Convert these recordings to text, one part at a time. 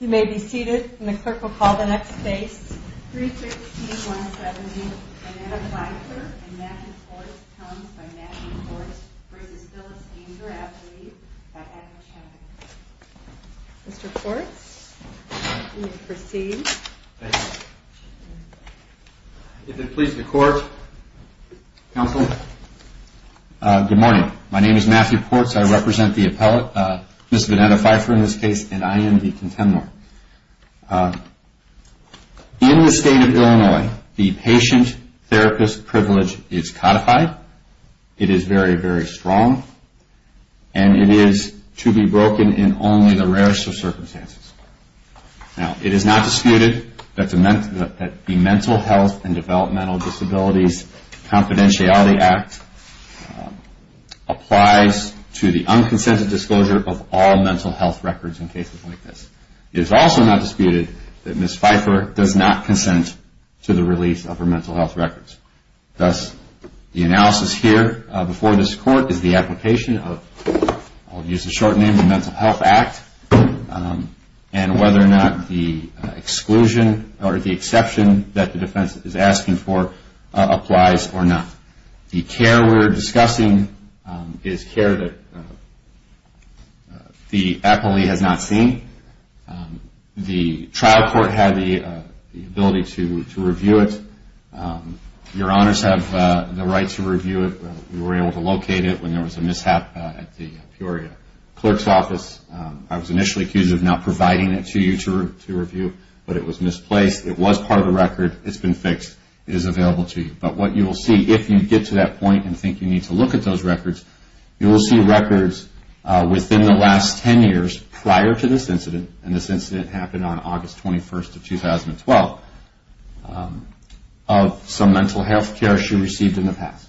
You may be seated, and the clerk will call the next case, 316-170, Vanetta Pfeiffer v. Matthew Ports. Mr. Ports, you may proceed. If it pleases the Court, Counsel. Good morning. My name is Matthew Ports. I represent the appellate, Ms. Vanetta Pfeiffer in this case, and I am the contemnor. In the state of Illinois, the patient-therapist privilege is codified. It is very, very strong, and it is to be broken in only the rarest of circumstances. Now, it is not disputed that the Mental Health and Developmental Disabilities Confidentiality Act applies to the unconsented disclosure of all mental health records in cases like this. It is also not disputed that Ms. Pfeiffer does not consent to the release of her mental health records. Thus, the analysis here before this Court is the application of, I'll use the short name, the Mental Health Act, and whether or not the exclusion or the exception that the defense is asking for applies or not. The care we're discussing is care that the appellee has not seen. The trial court had the ability to review it. Your Honors have the right to review it. We were able to locate it when there was a mishap at the Peoria clerk's office. I was initially accused of not providing it to you to review, but it was misplaced. It was part of a record. It's been fixed. It is available to you. But what you will see, if you get to that point and think you need to look at those records, you will see records within the last 10 years prior to this incident, and this incident happened on August 21st of 2012, of some mental health care she received in the past.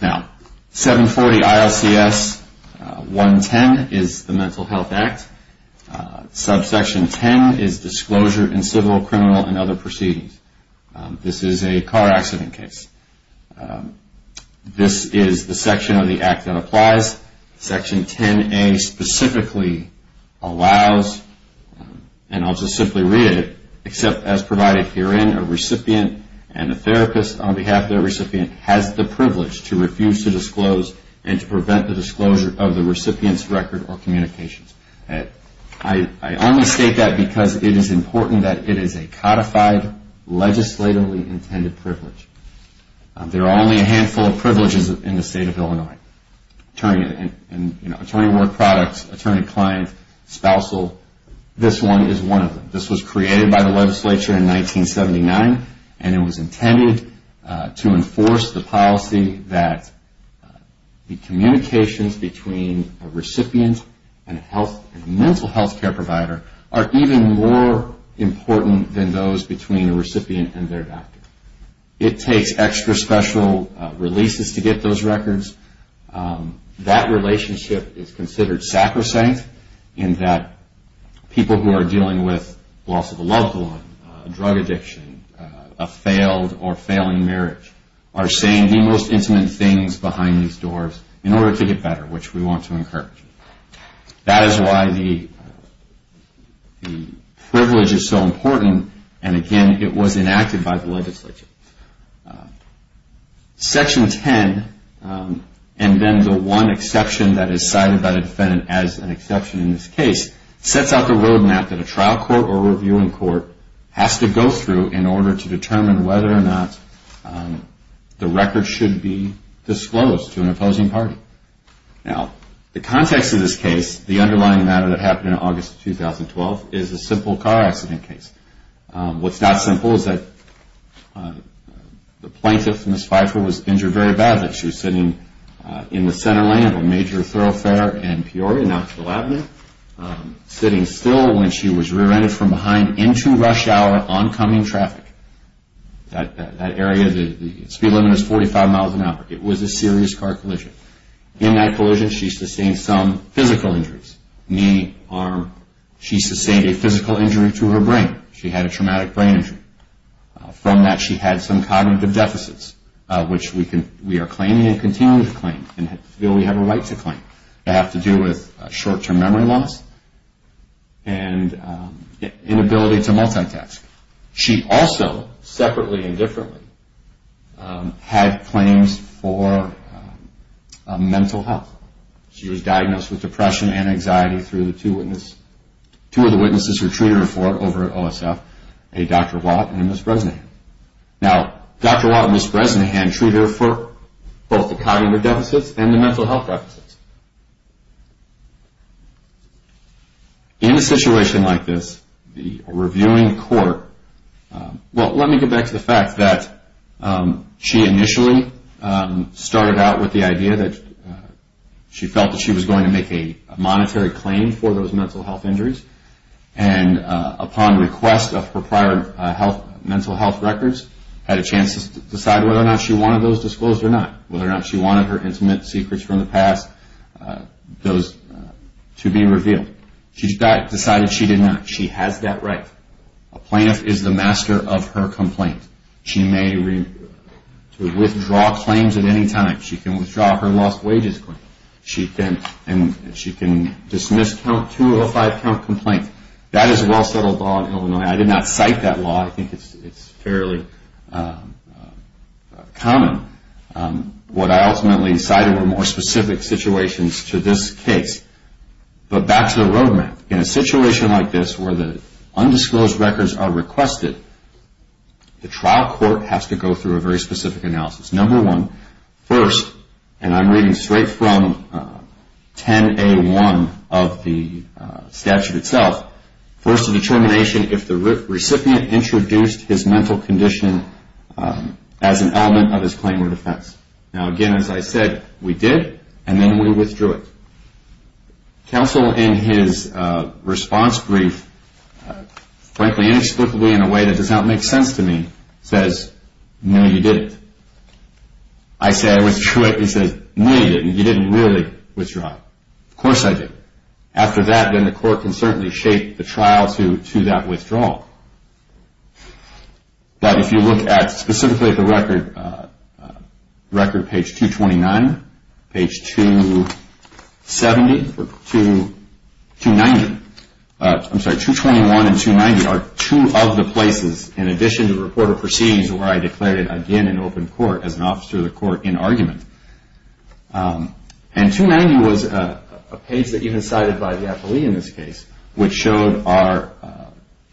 Now, 740 ILCS 110 is the Mental Health Act. Subsection 10 is Disclosure in Civil, Criminal, and Other Proceedings. This is a car accident case. This is the section of the Act that applies. Section 10A specifically allows, and I'll just simply read it, except as provided herein, a recipient and a therapist, on behalf of their recipient, has the privilege to refuse to disclose and to prevent the disclosure of the recipient's record or communications. I only state that because it is important that it is a codified, legislatively intended privilege. There are only a handful of privileges in the State of Illinois. Attorney at work products, attorney client, spousal, this one is one of them. This was created by the legislature in 1979, and it was intended to enforce the policy that the communications between a recipient and a mental health care provider are even more important than those between a recipient and their doctor. It takes extra special releases to get those records. That relationship is considered sacrosanct in that people who are dealing with loss of a loved one, drug addiction, a failed or failing marriage, are saying the most intimate things behind these doors in order to get better, which we want to encourage. That is why the privilege is so important, and again, it was enacted by the legislature. Section 10, and then the one exception that is cited by the defendant as an exception in this case, sets out the road map that a trial court or a reviewing court has to go through in order to determine whether or not the record should be disclosed to an opposing party. Now, the context of this case, the underlying matter that happened in August 2012, is a simple car accident case. What's not simple is that the plaintiff, Ms. Pfeiffer, was injured very badly. She was sitting in the center lane of a major thoroughfare in Peoria, Knoxville Avenue, sitting still when she was rear-ended from behind into rush hour oncoming traffic. That area, the speed limit is 45 miles an hour. It was a serious car collision. In that collision, she sustained some physical injuries, knee, arm. She sustained a physical injury to her brain. She had a traumatic brain injury. From that, she had some cognitive deficits, which we are claiming and continue to claim and feel we have a right to claim. They have to do with short-term memory loss and inability to multitask. She also, separately and differently, had claims for mental health. She was diagnosed with depression and anxiety through two of the witnesses who treated her for it over at OSF, Dr. Watt and Ms. Bresnahan. Now, Dr. Watt and Ms. Bresnahan treated her for both the cognitive deficits and the mental health deficits. In a situation like this, the reviewing court, well, let me get back to the fact that she initially started out with the idea that she felt that she was going to make a monetary claim for those mental health injuries, and upon request of her prior mental health records, had a chance to decide whether or not she wanted those disclosed or not, whether or not she wanted her intimate secrets from the past, those to be revealed. She decided she did not. She has that right. A plaintiff is the master of her complaint. She may withdraw claims at any time. She can withdraw her lost wages claim. She can dismiss count 205 complaint. That is a well-settled law in Illinois. I did not cite that law. I think it's fairly common. What I ultimately decided were more specific situations to this case. But back to the roadmap. In a situation like this where the undisclosed records are requested, the trial court has to go through a very specific analysis. Number one, first, and I'm reading straight from 10A1 of the statute itself, first a determination if the recipient introduced his mental condition as an element of his claim or defense. Now, again, as I said, we did, and then we withdrew it. Counsel in his response brief, frankly inexplicably in a way that does not make sense to me, says, no, you didn't. I say, I withdrew it. He says, no, you didn't. You didn't really withdraw. Of course I did. After that, then the court can certainly shape the trial to that withdrawal. But if you look at, specifically at the record, page 229, page 270, or 290, I'm sorry, 221 and 290 are two of the places, in addition to the report of proceedings, where I declared it again in open court as an officer of the court in argument. And 290 was a page that you had cited by the appellee in this case, which showed our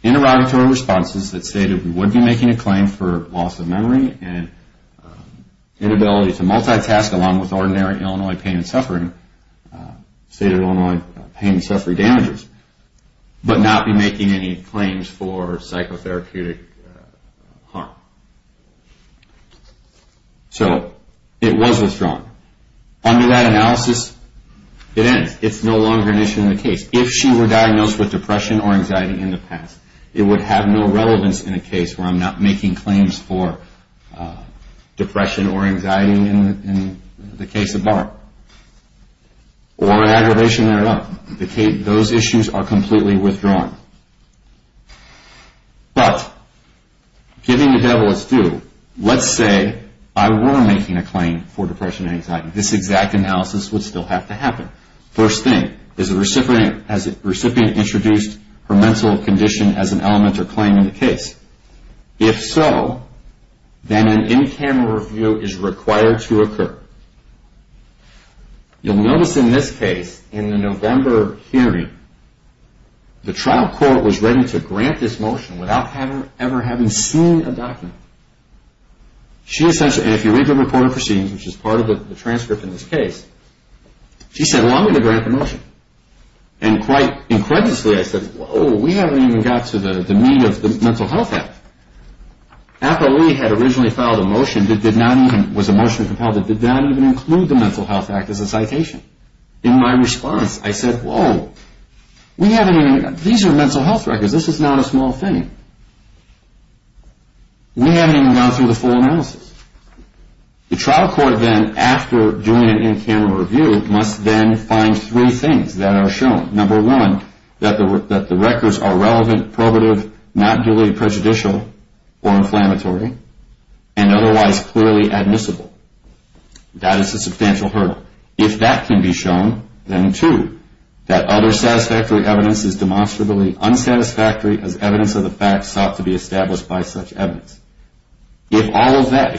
interrogatory responses that stated we would be making a claim for loss of memory and inability to multitask along with ordinary Illinois pain and suffering, stated Illinois pain and suffering damages, but not be making any claims for psychotherapeutic harm. So it was withdrawn. Under that analysis, it ends. It's no longer an issue in the case. If she were diagnosed with depression or anxiety in the past, it would have no relevance in a case where I'm not making claims for depression or anxiety in the case of Barb. Or an aggravation thereof. Those issues are completely withdrawn. But, giving the devil its due, let's say I were making a claim for depression and anxiety. This exact analysis would still have to happen. First thing, has the recipient introduced her mental condition as an element or claim in the case? If so, then an in-camera review is required to occur. You'll notice in this case, in the November hearing, the trial court was ready to grant this motion without ever having seen a document. And if you read the report of proceedings, which is part of the transcript in this case, she said, well, I'm going to grant the motion. And quite incredulously, I said, whoa, we haven't even got to the meat of the Mental Health Act. After we had originally filed a motion that was emotionally compelled, it did not even include the Mental Health Act as a citation. In my response, I said, whoa, these are mental health records. This is not a small thing. We haven't even gone through the full analysis. The trial court then, after doing an in-camera review, must then find three things that are shown. Number one, that the records are relevant, probative, not duly prejudicial or inflammatory, and otherwise clearly admissible. That is a substantial hurdle. If that can be shown, then two, that other satisfactory evidence is demonstrably unsatisfactory as evidence of the facts sought to be established by such evidence. If all of that,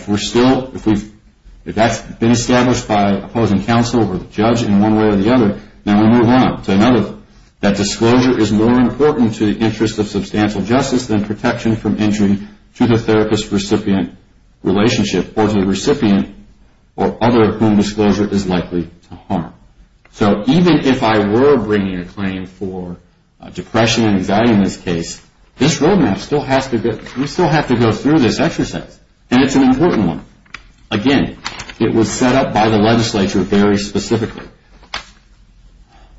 if that's been established by opposing counsel or the judge in one way or the other, then we move on to another, that disclosure is more important to the interest of substantial justice than protection from injury to the therapist-recipient relationship or to the recipient or other whom disclosure is likely to harm. So even if I were bringing a claim for depression and anxiety in this case, this roadmap still has to be, we still have to go through this exercise, and it's an important one. Again, it was set up by the legislature very specifically.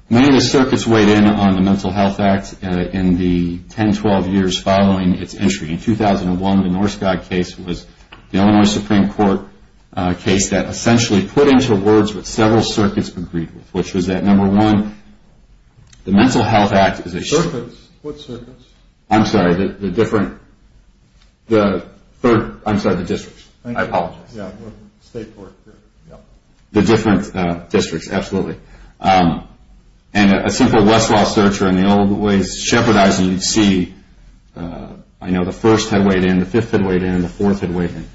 Many of the circuits weighed in on the Mental Health Act in the 10, 12 years following its entry. In 2001, the Norskog case was the Illinois Supreme Court case that essentially put into words what several circuits agreed with, which was that, number one, the Mental Health Act is a What circuits? I'm sorry, the different, the third, I'm sorry, the districts. I apologize. State court, yeah. The different districts, absolutely. And a simple Westlaw search or in the old ways, shepherdizing, you'd see, I know the first had weighed in, the fifth had weighed in, the fourth had weighed in.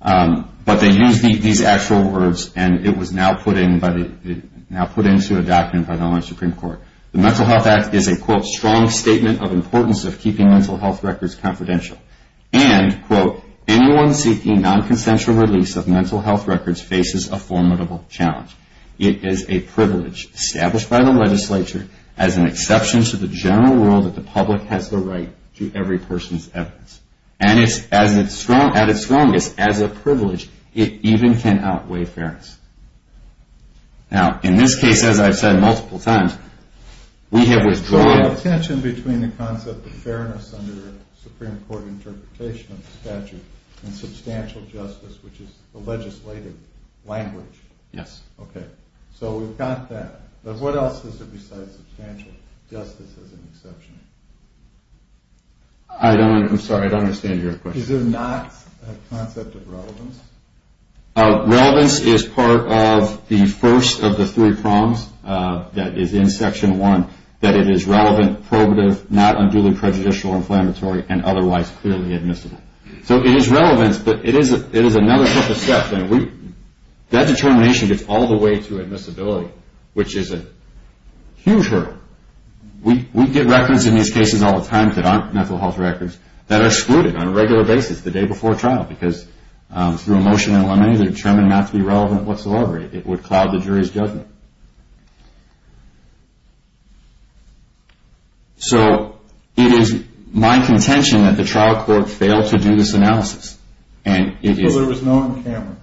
But they used these actual words, and it was now put into a document by the Illinois Supreme Court. The Mental Health Act is a, quote, strong statement of importance of keeping mental health records confidential. And, quote, anyone seeking nonconsensual release of mental health records faces a formidable challenge. It is a privilege established by the legislature as an exception to the general rule that the public has the right to every person's evidence. And it's, at its strongest, as a privilege, it even can outweigh fairness. Now, in this case, as I've said multiple times, we have withdrawn. So there's a tension between the concept of fairness under the Supreme Court interpretation of the statute and substantial justice, which is the legislative language. Yes. Okay. So we've got that. But what else is there besides substantial justice as an exception? I don't, I'm sorry, I don't understand your question. Is there not a concept of relevance? Relevance is part of the first of the three prongs that is in Section 1, that it is relevant, probative, not unduly prejudicial or inflammatory, and otherwise clearly admissible. So it is relevance, but it is another step. That determination gets all the way to admissibility, which is a huge hurdle. We get records in these cases all the time that aren't mental health records that are excluded on a regular basis the day before a trial, because through a motion in limine, they're determined not to be relevant whatsoever. It would cloud the jury's judgment. So it is my contention that the trial court failed to do this analysis. So there was no encampment.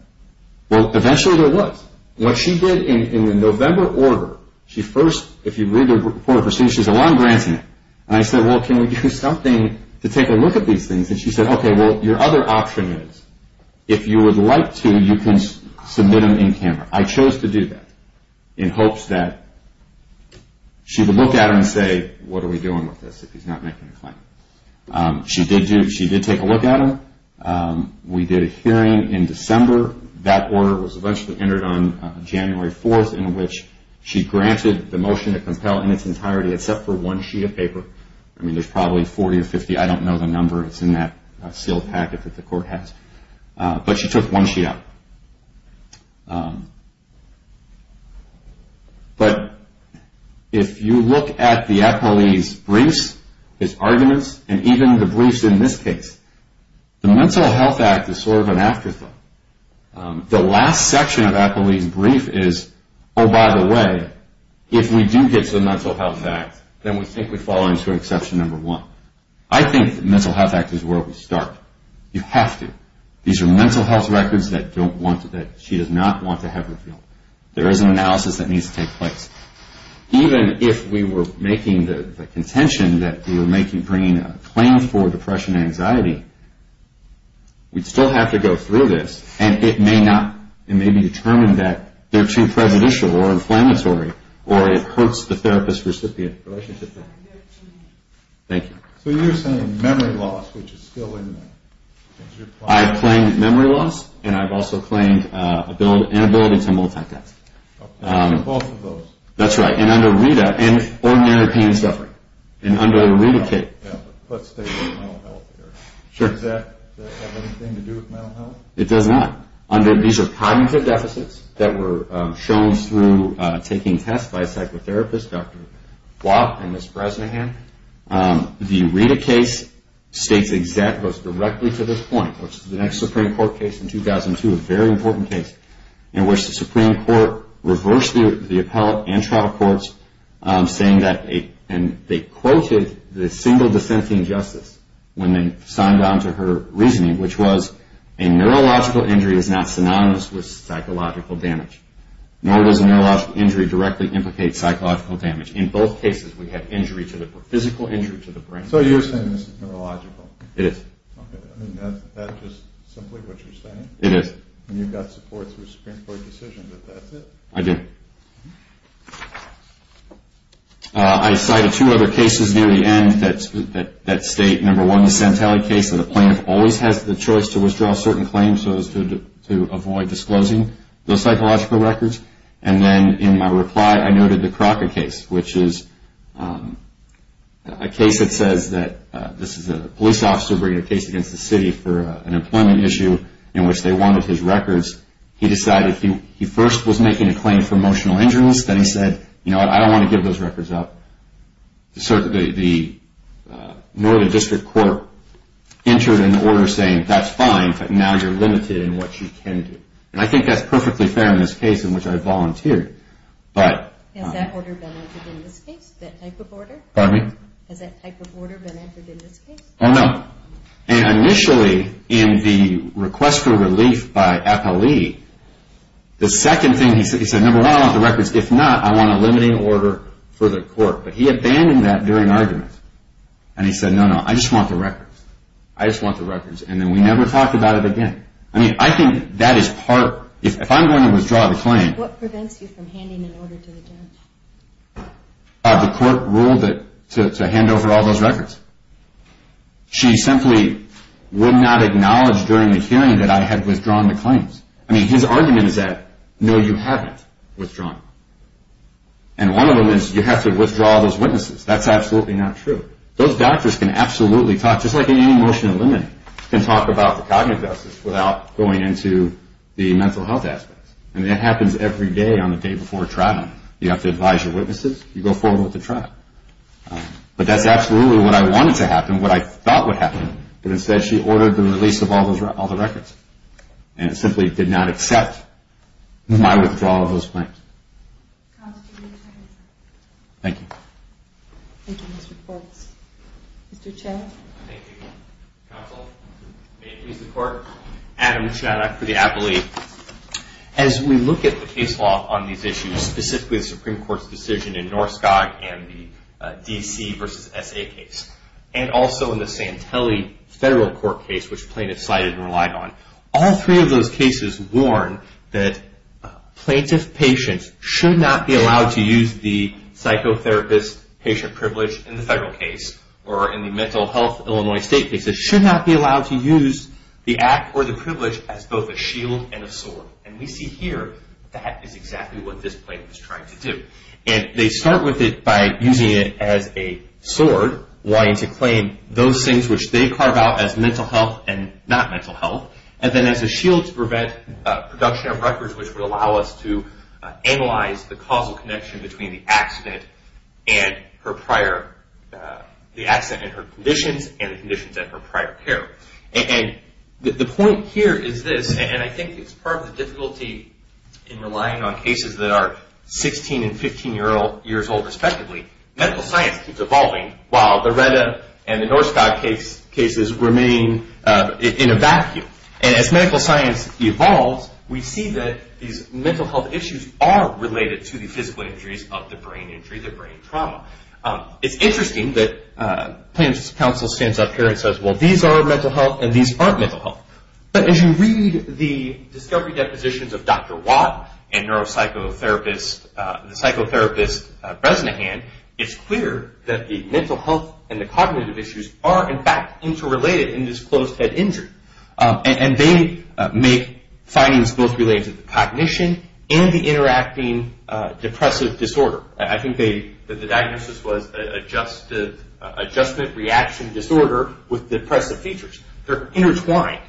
Well, eventually there was. What she did in the November order, she first, if you read the report of proceedings, she said, well, I'm granting it. And I said, well, can we do something to take a look at these things? And she said, okay, well, your other option is, if you would like to, you can submit them in camera. I chose to do that in hopes that she would look at them and say, what are we doing with this if he's not making a claim? She did take a look at them. We did a hearing in December. That order was eventually entered on January 4th, in which she granted the motion to compel in its entirety except for one sheet of paper. I mean, there's probably 40 or 50. I don't know the number. It's in that sealed packet that the court has. But she took one sheet out. But if you look at the appellee's briefs, his arguments, and even the briefs in this case, the Mental Health Act is sort of an afterthought. The last section of the appellee's brief is, oh, by the way, if we do get to the Mental Health Act, then we think we fall into exception number one. I think the Mental Health Act is where we start. You have to. These are mental health records that she does not want to have revealed. There is an analysis that needs to take place. Even if we were making the contention that we were bringing a claim for depression and anxiety, we'd still have to go through this, and it may be determined that they're too prejudicial or inflammatory or it hurts the therapist-recipient relationship. Thank you. So you're saying memory loss, which is still in there. I've claimed memory loss, and I've also claimed inability to multitask. Both of those. That's right. And under RETA, and ordinary pain and suffering. And under a RETA kit. Let's stay with mental health here. Sure. Does that have anything to do with mental health? It does not. These are cognitive deficits that were shown through taking tests by a psychotherapist, Dr. Watt and Ms. Bresnahan. The RETA case goes directly to this point, which is the next Supreme Court case in 2002, a very important case in which the Supreme Court reversed the appellate and trial courts, saying that they quoted the single dissenting justice when they signed on to her reasoning, which was a neurological injury is not synonymous with psychological damage, nor does a neurological injury directly implicate psychological damage. In both cases, we have physical injury to the brain. So you're saying this is neurological. It is. Okay. I mean, that's just simply what you're saying? It is. And you've got support through Supreme Court decisions that that's it? I do. Okay. I cited two other cases near the end that state, number one, the Santelli case, that a plaintiff always has the choice to withdraw certain claims so as to avoid disclosing those psychological records. And then in my reply, I noted the Crocker case, which is a case that says that this is a police officer bringing a case against the city for an employment issue in which they wanted his records. He decided he first was making a claim for emotional injuries. Then he said, you know what, I don't want to give those records up. The Northern District Court entered an order saying that's fine, but now you're limited in what you can do. And I think that's perfectly fair in this case in which I volunteered. Has that order been entered in this case, that type of order? Pardon me? Has that type of order been entered in this case? Oh, no. No. And initially in the request for relief by Appali, the second thing he said, number one, I want the records. If not, I want a limiting order for the court. But he abandoned that during argument. And he said, no, no, I just want the records. I just want the records. And then we never talked about it again. I mean, I think that is part. If I'm going to withdraw the claim. What prevents you from handing an order to the judge? The court ruled to hand over all those records. She simply would not acknowledge during the hearing that I had withdrawn the claims. I mean, his argument is that, no, you haven't withdrawn them. And one of them is you have to withdraw those witnesses. That's absolutely not true. Those doctors can absolutely talk, just like any motion to eliminate, can talk about the cognitive justice without going into the mental health aspects. And that happens every day on the day before trial. You have to advise your witnesses. You go forward with the trial. But that's absolutely what I wanted to happen, what I thought would happen. But instead, she ordered the release of all the records. And it simply did not accept my withdrawal of those claims. Thank you. Thank you, Mr. Forbes. Mr. Chen. Thank you, counsel. May it please the court. Adam Chanak for the Appellee. As we look at the case law on these issues, specifically the Supreme Court's decision in Norskog and the D.C. v. S.A. case, and also in the Santelli federal court case, which plaintiffs sided and relied on, all three of those cases warn that plaintiff patients should not be allowed to use the psychotherapist patient privilege in the federal case or in the mental health Illinois state case. They should not be allowed to use the act or the privilege as both a shield and a sword. And we see here that is exactly what this plaintiff is trying to do. And they start with it by using it as a sword, wanting to claim those things which they carve out as mental health and not mental health, and then as a shield to prevent production of records which would allow us to analyze the causal connection between the accident and her prior, the accident and her conditions, and the conditions at her prior care. And the point here is this, and I think it's part of the difficulty in relying on cases that are 16 and 15 years old respectively. Medical science keeps evolving while Loretta and the Norskog cases remain in a vacuum. And as medical science evolves, we see that these mental health issues are related to the physical injuries of the brain injury, the brain trauma. It's interesting that plaintiff's counsel stands up here and says, well, these are mental health and these aren't mental health. But as you read the discovery depositions of Dr. Watt and the psychotherapist Bresnahan, it's clear that the mental health and the cognitive issues are in fact interrelated in this closed head injury. And they make findings both related to cognition and the interacting depressive disorder. I think the diagnosis was adjustment reaction disorder with depressive features. They're intertwined.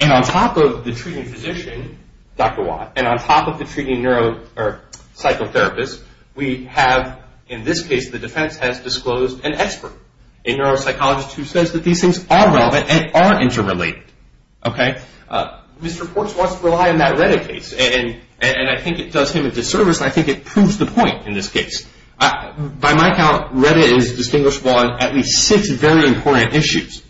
And on top of the treating physician, Dr. Watt, and on top of the treating psychotherapist, we have in this case the defense has disclosed an expert, a neuropsychologist who says that these things are relevant and are interrelated. Mr. Portz wants to rely on that Loretta case. And I think it does him a disservice, and I think it proves the point in this case. By my count, Loretta is distinguishable on at least six very important issues.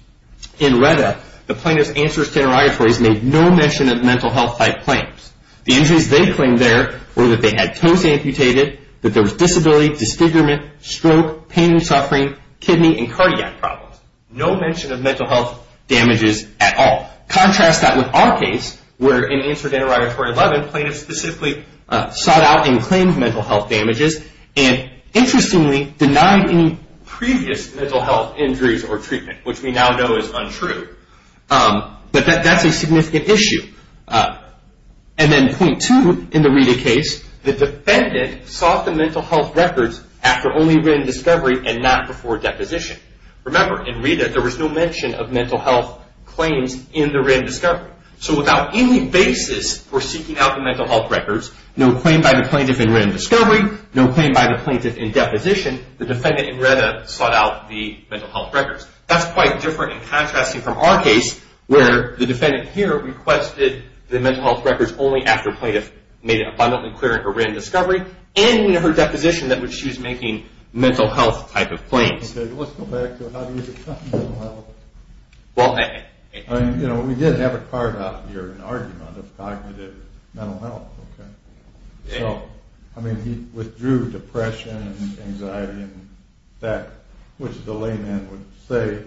In Loretta, the plaintiff's answers to interrogatories made no mention of mental health-type claims. The injuries they claimed there were that they had toes amputated, that there was disability, disfigurement, stroke, pain and suffering, kidney and cardiac problems. No mention of mental health damages at all. Contrast that with our case where in answer to interrogatory 11, plaintiffs specifically sought out and claimed mental health damages and interestingly denied any previous mental health injuries or treatment, which we now know is untrue. But that's a significant issue. And then point two in the RETA case, the defendant sought the mental health records after only written discovery and not before deposition. Remember, in RETA there was no mention of mental health claims in the written discovery. So without any basis for seeking out the mental health records, no claim by the plaintiff in written discovery, no claim by the plaintiff in deposition, the defendant in RETA sought out the mental health records. That's quite different and contrasting from our case where the defendant here requested the mental health records only after plaintiff made it abundantly clear in her written discovery and in her deposition that she was making mental health-type of claims. Okay, let's go back to how do you define mental health. Well, I... I mean, you know, we did have a card out here, an argument of cognitive mental health, okay? So, I mean, he withdrew depression and anxiety and that, which the layman would say,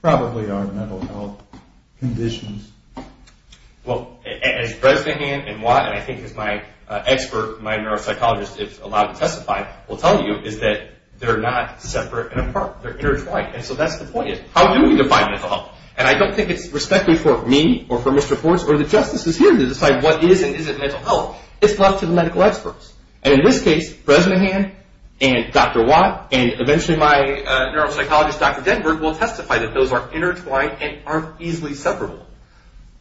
probably are mental health conditions. Well, as Bresnahan and Watt, and I think as my expert, my neuropsychologist, if allowed to testify, will tell you, is that they're not separate and apart. They're intertwined. And so that's the point is, how do we define mental health? And I don't think it's respectfully for me or for Mr. Forbes or the justices here to decide what is and isn't mental health. It's left to the medical experts. And in this case, Bresnahan and Dr. Watt and eventually my neuropsychologist, Dr. Denberg, will testify that those are intertwined and aren't easily separable.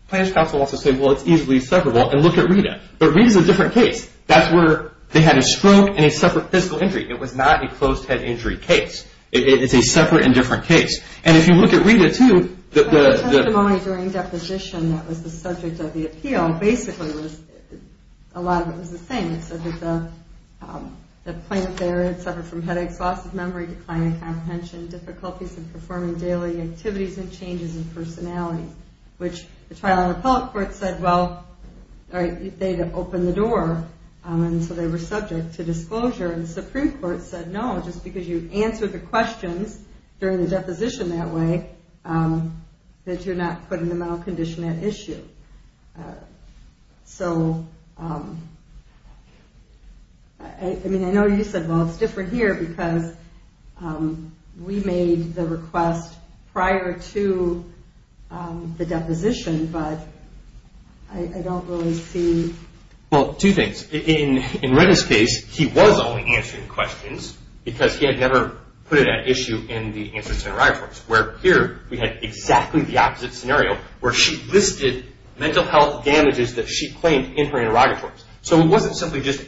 Plaintiff's counsel wants to say, well, it's easily separable, and look at Rita. But Rita's a different case. That's where they had a stroke and a separate physical injury. It was not a closed-head injury case. It's a separate and different case. And if you look at Rita, too, the... A lot of it was the same. It said that the plaintiff there had suffered from headaches, loss of memory, decline in comprehension, difficulties in performing daily activities, and changes in personality. Which the trial and appellate court said, well, they'd open the door. And so they were subject to disclosure. And the Supreme Court said, no, just because you answered the questions during the deposition that way, that you're not putting the mental condition at issue. So, I mean, I know you said, well, it's different here, because we made the request prior to the deposition. But I don't really see... Well, two things. In Rita's case, he was only answering questions, because he had never put it at issue in the answer center reference. Where here we had exactly the opposite scenario, where she listed mental health damages that she claimed in her interrogatories. So it wasn't simply just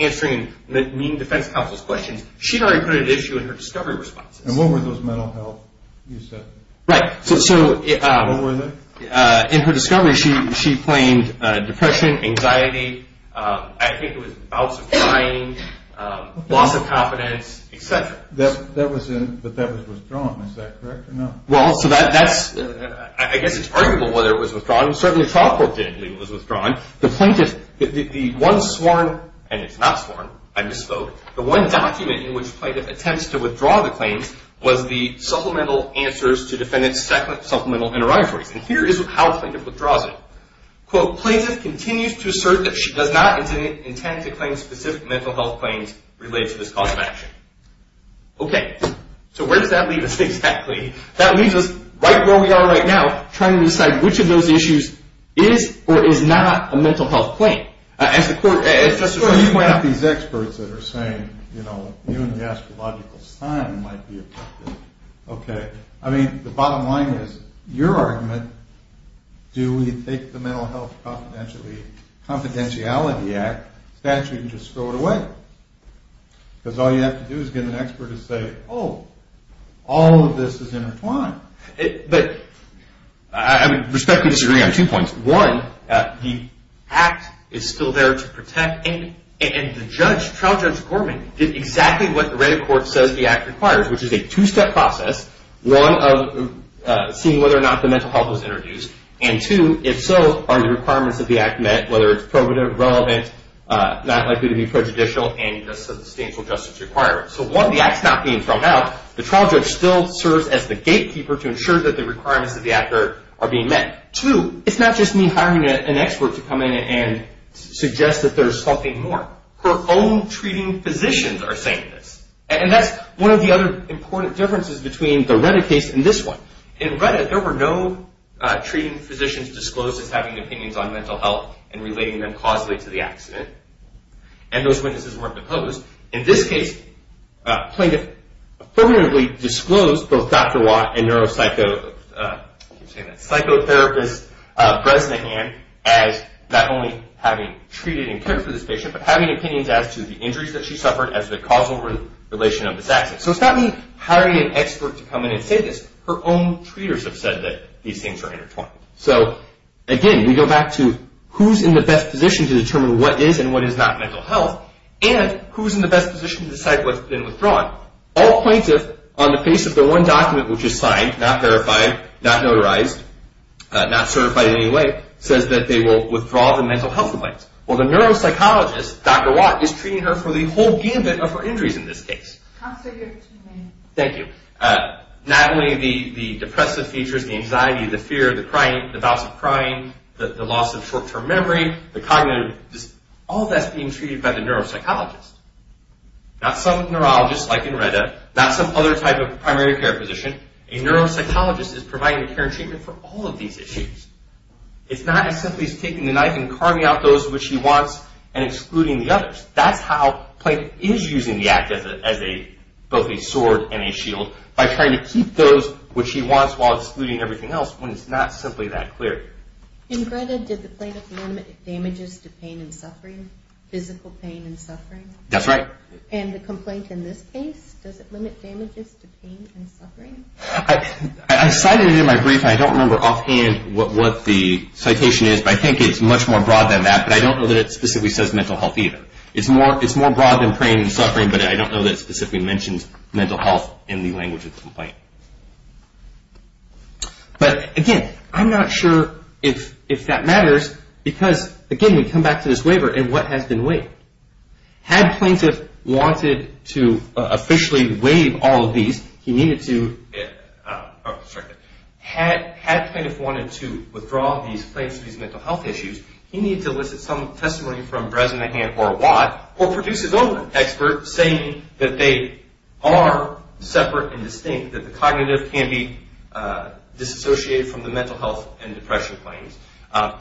answering mean defense counsel's questions. She'd already put it at issue in her discovery responses. And what were those mental health, you said? Right. What were they? In her discovery, she claimed depression, anxiety. I think it was bouts of crying, loss of confidence, et cetera. But that was withdrawn. Is that correct or no? Well, so that's... I guess it's arguable whether it was withdrawn. Certainly, Chalkworth didn't think it was withdrawn. The plaintiff, the one sworn, and it's not sworn, I misspoke, the one document in which plaintiff attempts to withdraw the claims was the supplemental answers to defendants' supplemental interrogatories. And here is how plaintiff withdraws it. Quote, plaintiff continues to assert that she does not intend to claim specific mental health claims related to this cause of action. Okay. So where does that leave us exactly? That leaves us right where we are right now trying to decide which of those issues is or is not a mental health claim. As the court... You have these experts that are saying, you know, even the astrological sign might be affected. Okay. I mean, the bottom line is, your argument, do we take the Mental Health Confidentiality Act statute and just throw it away? Because all you have to do is get an expert to say, oh, all of this is intertwined. But I would respectfully disagree on two points. One, the act is still there to protect, and the judge, trial judge Gorman, did exactly what the red court says the act requires, which is a two-step process, one, of seeing whether or not the mental health was introduced, and two, if so, are the requirements of the act met, whether it's probative, relevant, not likely to be prejudicial, and a substantial justice requirement. So one, the act's not being thrown out. The trial judge still serves as the gatekeeper to ensure that the requirements of the act are being met. Two, it's not just me hiring an expert to come in and suggest that there's something more. Her own treating physicians are saying this. And that's one of the other important differences between the Reddit case and this one. In Reddit, there were no treating physicians disclosed as having opinions on mental health and relating them causally to the accident. And those witnesses weren't disclosed. In this case, plaintiff permanently disclosed both Dr. Watt and neuropsychotherapist Bresnahan as not only having treated and cared for this patient, but having opinions as to the injuries that she suffered as the causal relation of this accident. So it's not me hiring an expert to come in and say this. Her own treaters have said that these things are intertwined. So, again, we go back to who's in the best position to determine what is and what is not mental health, and who's in the best position to decide what's been withdrawn. All plaintiff, on the basis of the one document which is signed, not verified, not notarized, not certified in any way, says that they will withdraw the mental health complaints. Well, the neuropsychologist, Dr. Watt, is treating her for the whole gambit of her injuries in this case. Thank you. Not only the depressive features, the anxiety, the fear, the crying, the bouts of crying, the loss of short-term memory, the cognitive, all that's being treated by the neuropsychologist. Not some neurologist like in RETA. Not some other type of primary care physician. A neuropsychologist is providing the care and treatment for all of these issues. It's not as simply as taking the knife and carving out those which he wants and excluding the others. That's how plaintiff is using the act as both a sword and a shield, by trying to keep those which he wants while excluding everything else when it's not simply that clear. In RETA, did the plaintiff limit damages to pain and suffering, physical pain and suffering? That's right. And the complaint in this case, does it limit damages to pain and suffering? I cited it in my brief, and I don't remember offhand what the citation is, but I think it's much more broad than that, but I don't know that it specifically says mental health either. It's more broad than pain and suffering, but I don't know that it specifically mentions mental health in the language of the complaint. But, again, I'm not sure if that matters because, again, we come back to this waiver and what has been waived. Had plaintiff wanted to officially waive all of these, he needed to, had plaintiff wanted to withdraw these mental health issues, he needed to elicit some testimony from Bresnahan or Watt or produce his own expert saying that they are separate and distinct, that the cognitive can be disassociated from the mental health and depression claims.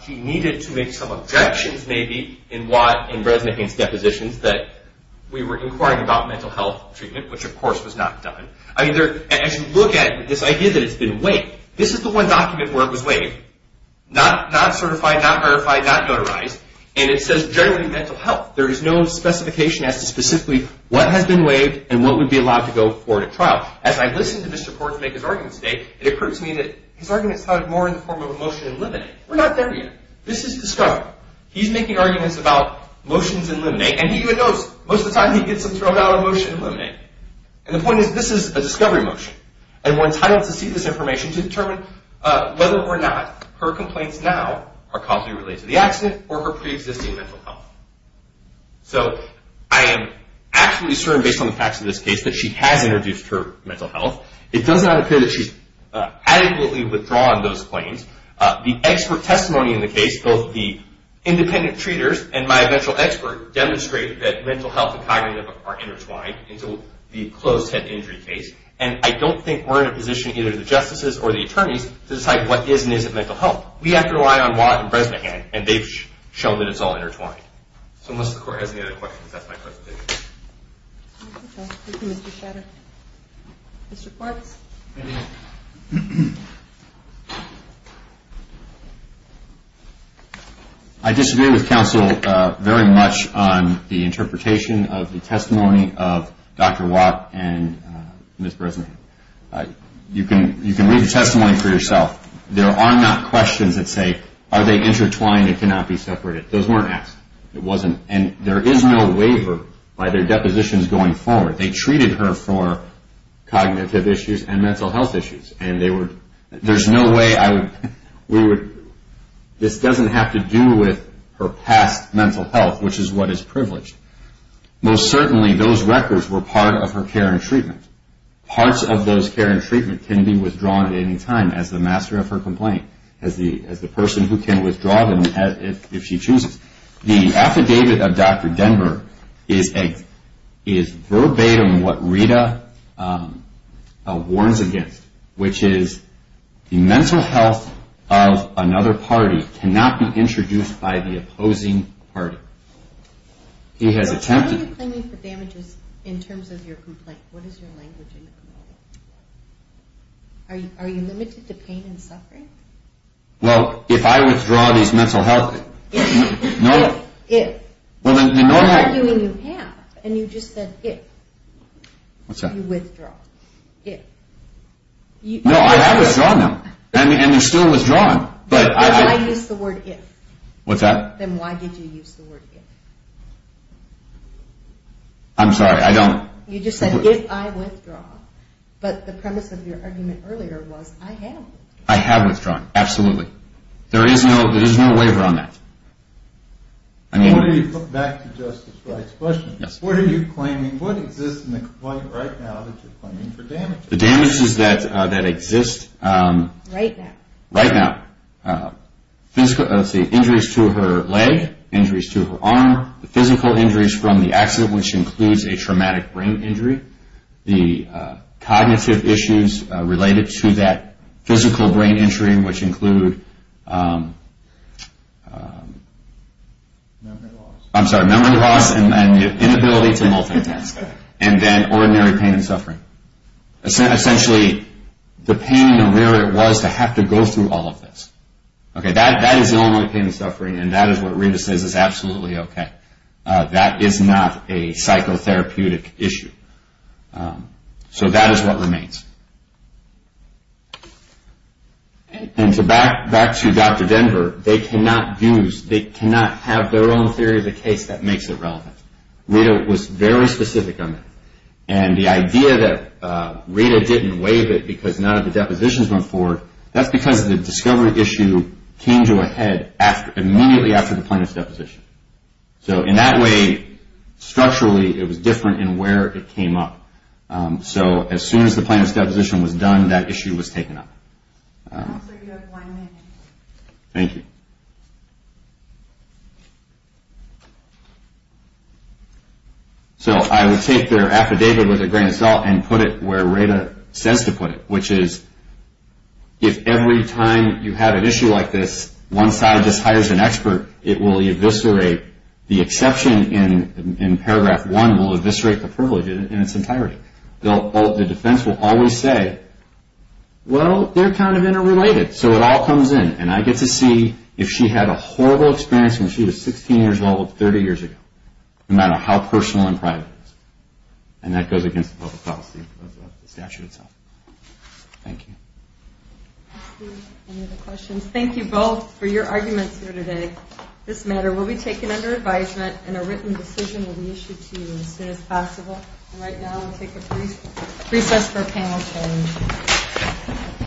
He needed to make some objections, maybe, in Watt and Bresnahan's depositions that we were inquiring about mental health treatment, which, of course, was not done. As you look at this idea that it's been waived, this is the one document where it was waived. Not certified, not verified, not notarized, and it says generally mental health. There is no specification as to specifically what has been waived and what would be allowed to go forward at trial. As I listened to Mr. Korn make his arguments today, it occurred to me that his arguments sounded more in the form of a motion to eliminate. We're not there yet. This is discovery. He's making arguments about motions to eliminate, and he even knows most of the time he gets them thrown out of motion to eliminate. And the point is this is a discovery motion. And we're entitled to see this information to determine whether or not her complaints now are causally related to the accident or her preexisting mental health. So I am absolutely certain, based on the facts of this case, that she has introduced her mental health. It does not appear that she's adequately withdrawn those claims. The expert testimony in the case, both the independent treaters and my eventual expert, demonstrate that mental health and cognitive are intertwined into the closed-head injury case, and I don't think we're in a position, either the justices or the attorneys, to decide what is and isn't mental health. We have to rely on Watt and Bresnahan, and they've shown that it's all intertwined. So unless the Court has any other questions, that's my presentation. Thank you, Mr. Shatter. Mr. Quartz. Thank you. I disagree with counsel very much on the interpretation of the testimony of Dr. Watt and Ms. Bresnahan. You can read the testimony for yourself. There are not questions that say, are they intertwined? It cannot be separated. Those weren't asked. It wasn't. And there is no waiver by their depositions going forward. They treated her for cognitive issues and mental health issues, and there's no way this doesn't have to do with her past mental health, which is what is privileged. Most certainly, those records were part of her care and treatment. Parts of those care and treatment can be withdrawn at any time as the master of her complaint, as the person who can withdraw them if she chooses. The affidavit of Dr. Denver is verbatim what Rita warns against, which is the mental health of another party cannot be introduced by the opposing party. He has attempted. What are you claiming for damages in terms of your complaint? What is your language in the complaint? Are you limited to pain and suffering? Well, if I withdraw these mental health… If. No. If. I'm arguing you have. And you just said if. What's that? You withdraw. If. No, I have withdrawn them. And they're still withdrawn. Then why use the word if? What's that? Then why did you use the word if? I'm sorry, I don't. You just said, if I withdraw. But the premise of your argument earlier was, I have withdrawn. I have withdrawn. Absolutely. There is no waiver on that. Back to Justice Wright's question. What are you claiming? What exists in the complaint right now that you're claiming for damages? The damages that exist… Right now. Right now. Injuries to her leg, injuries to her arm, the physical injuries from the accident, which includes a traumatic brain injury, the cognitive issues related to that physical brain injury, which include… Memory loss. I'm sorry, memory loss and the inability to multitask. And then ordinary pain and suffering. Essentially, the pain and where it was to have to go through all of this. That is the only pain and suffering, and that is what Rita says is absolutely okay. That is not a psychotherapeutic issue. So that is what remains. Back to Dr. Denver. They cannot have their own theory of the case that makes it relevant. Rita was very specific on that. And the idea that Rita didn't waive it because none of the depositions went forward, that's because the discovery issue came to a head immediately after the plaintiff's deposition. So in that way, structurally, it was different in where it came up. So as soon as the plaintiff's deposition was done, that issue was taken up. Thank you. So I will take their affidavit with a grain of salt and put it where Rita says to put it, which is if every time you have an issue like this, one side just hires an expert, it will eviscerate the exception in paragraph one will eviscerate the privilege in its entirety. The defense will always say, well, they're kind of interrelated, so it all comes in. And I get to see if she had a horrible experience when she was 16 years old 30 years ago, no matter how personal and private it was. And that goes against the public policy of the statute itself. Thank you. Any other questions? Thank you both for your arguments here today. This matter will be taken under advisement, and a written decision will be issued to you as soon as possible. And right now, we'll take a recess for panel change.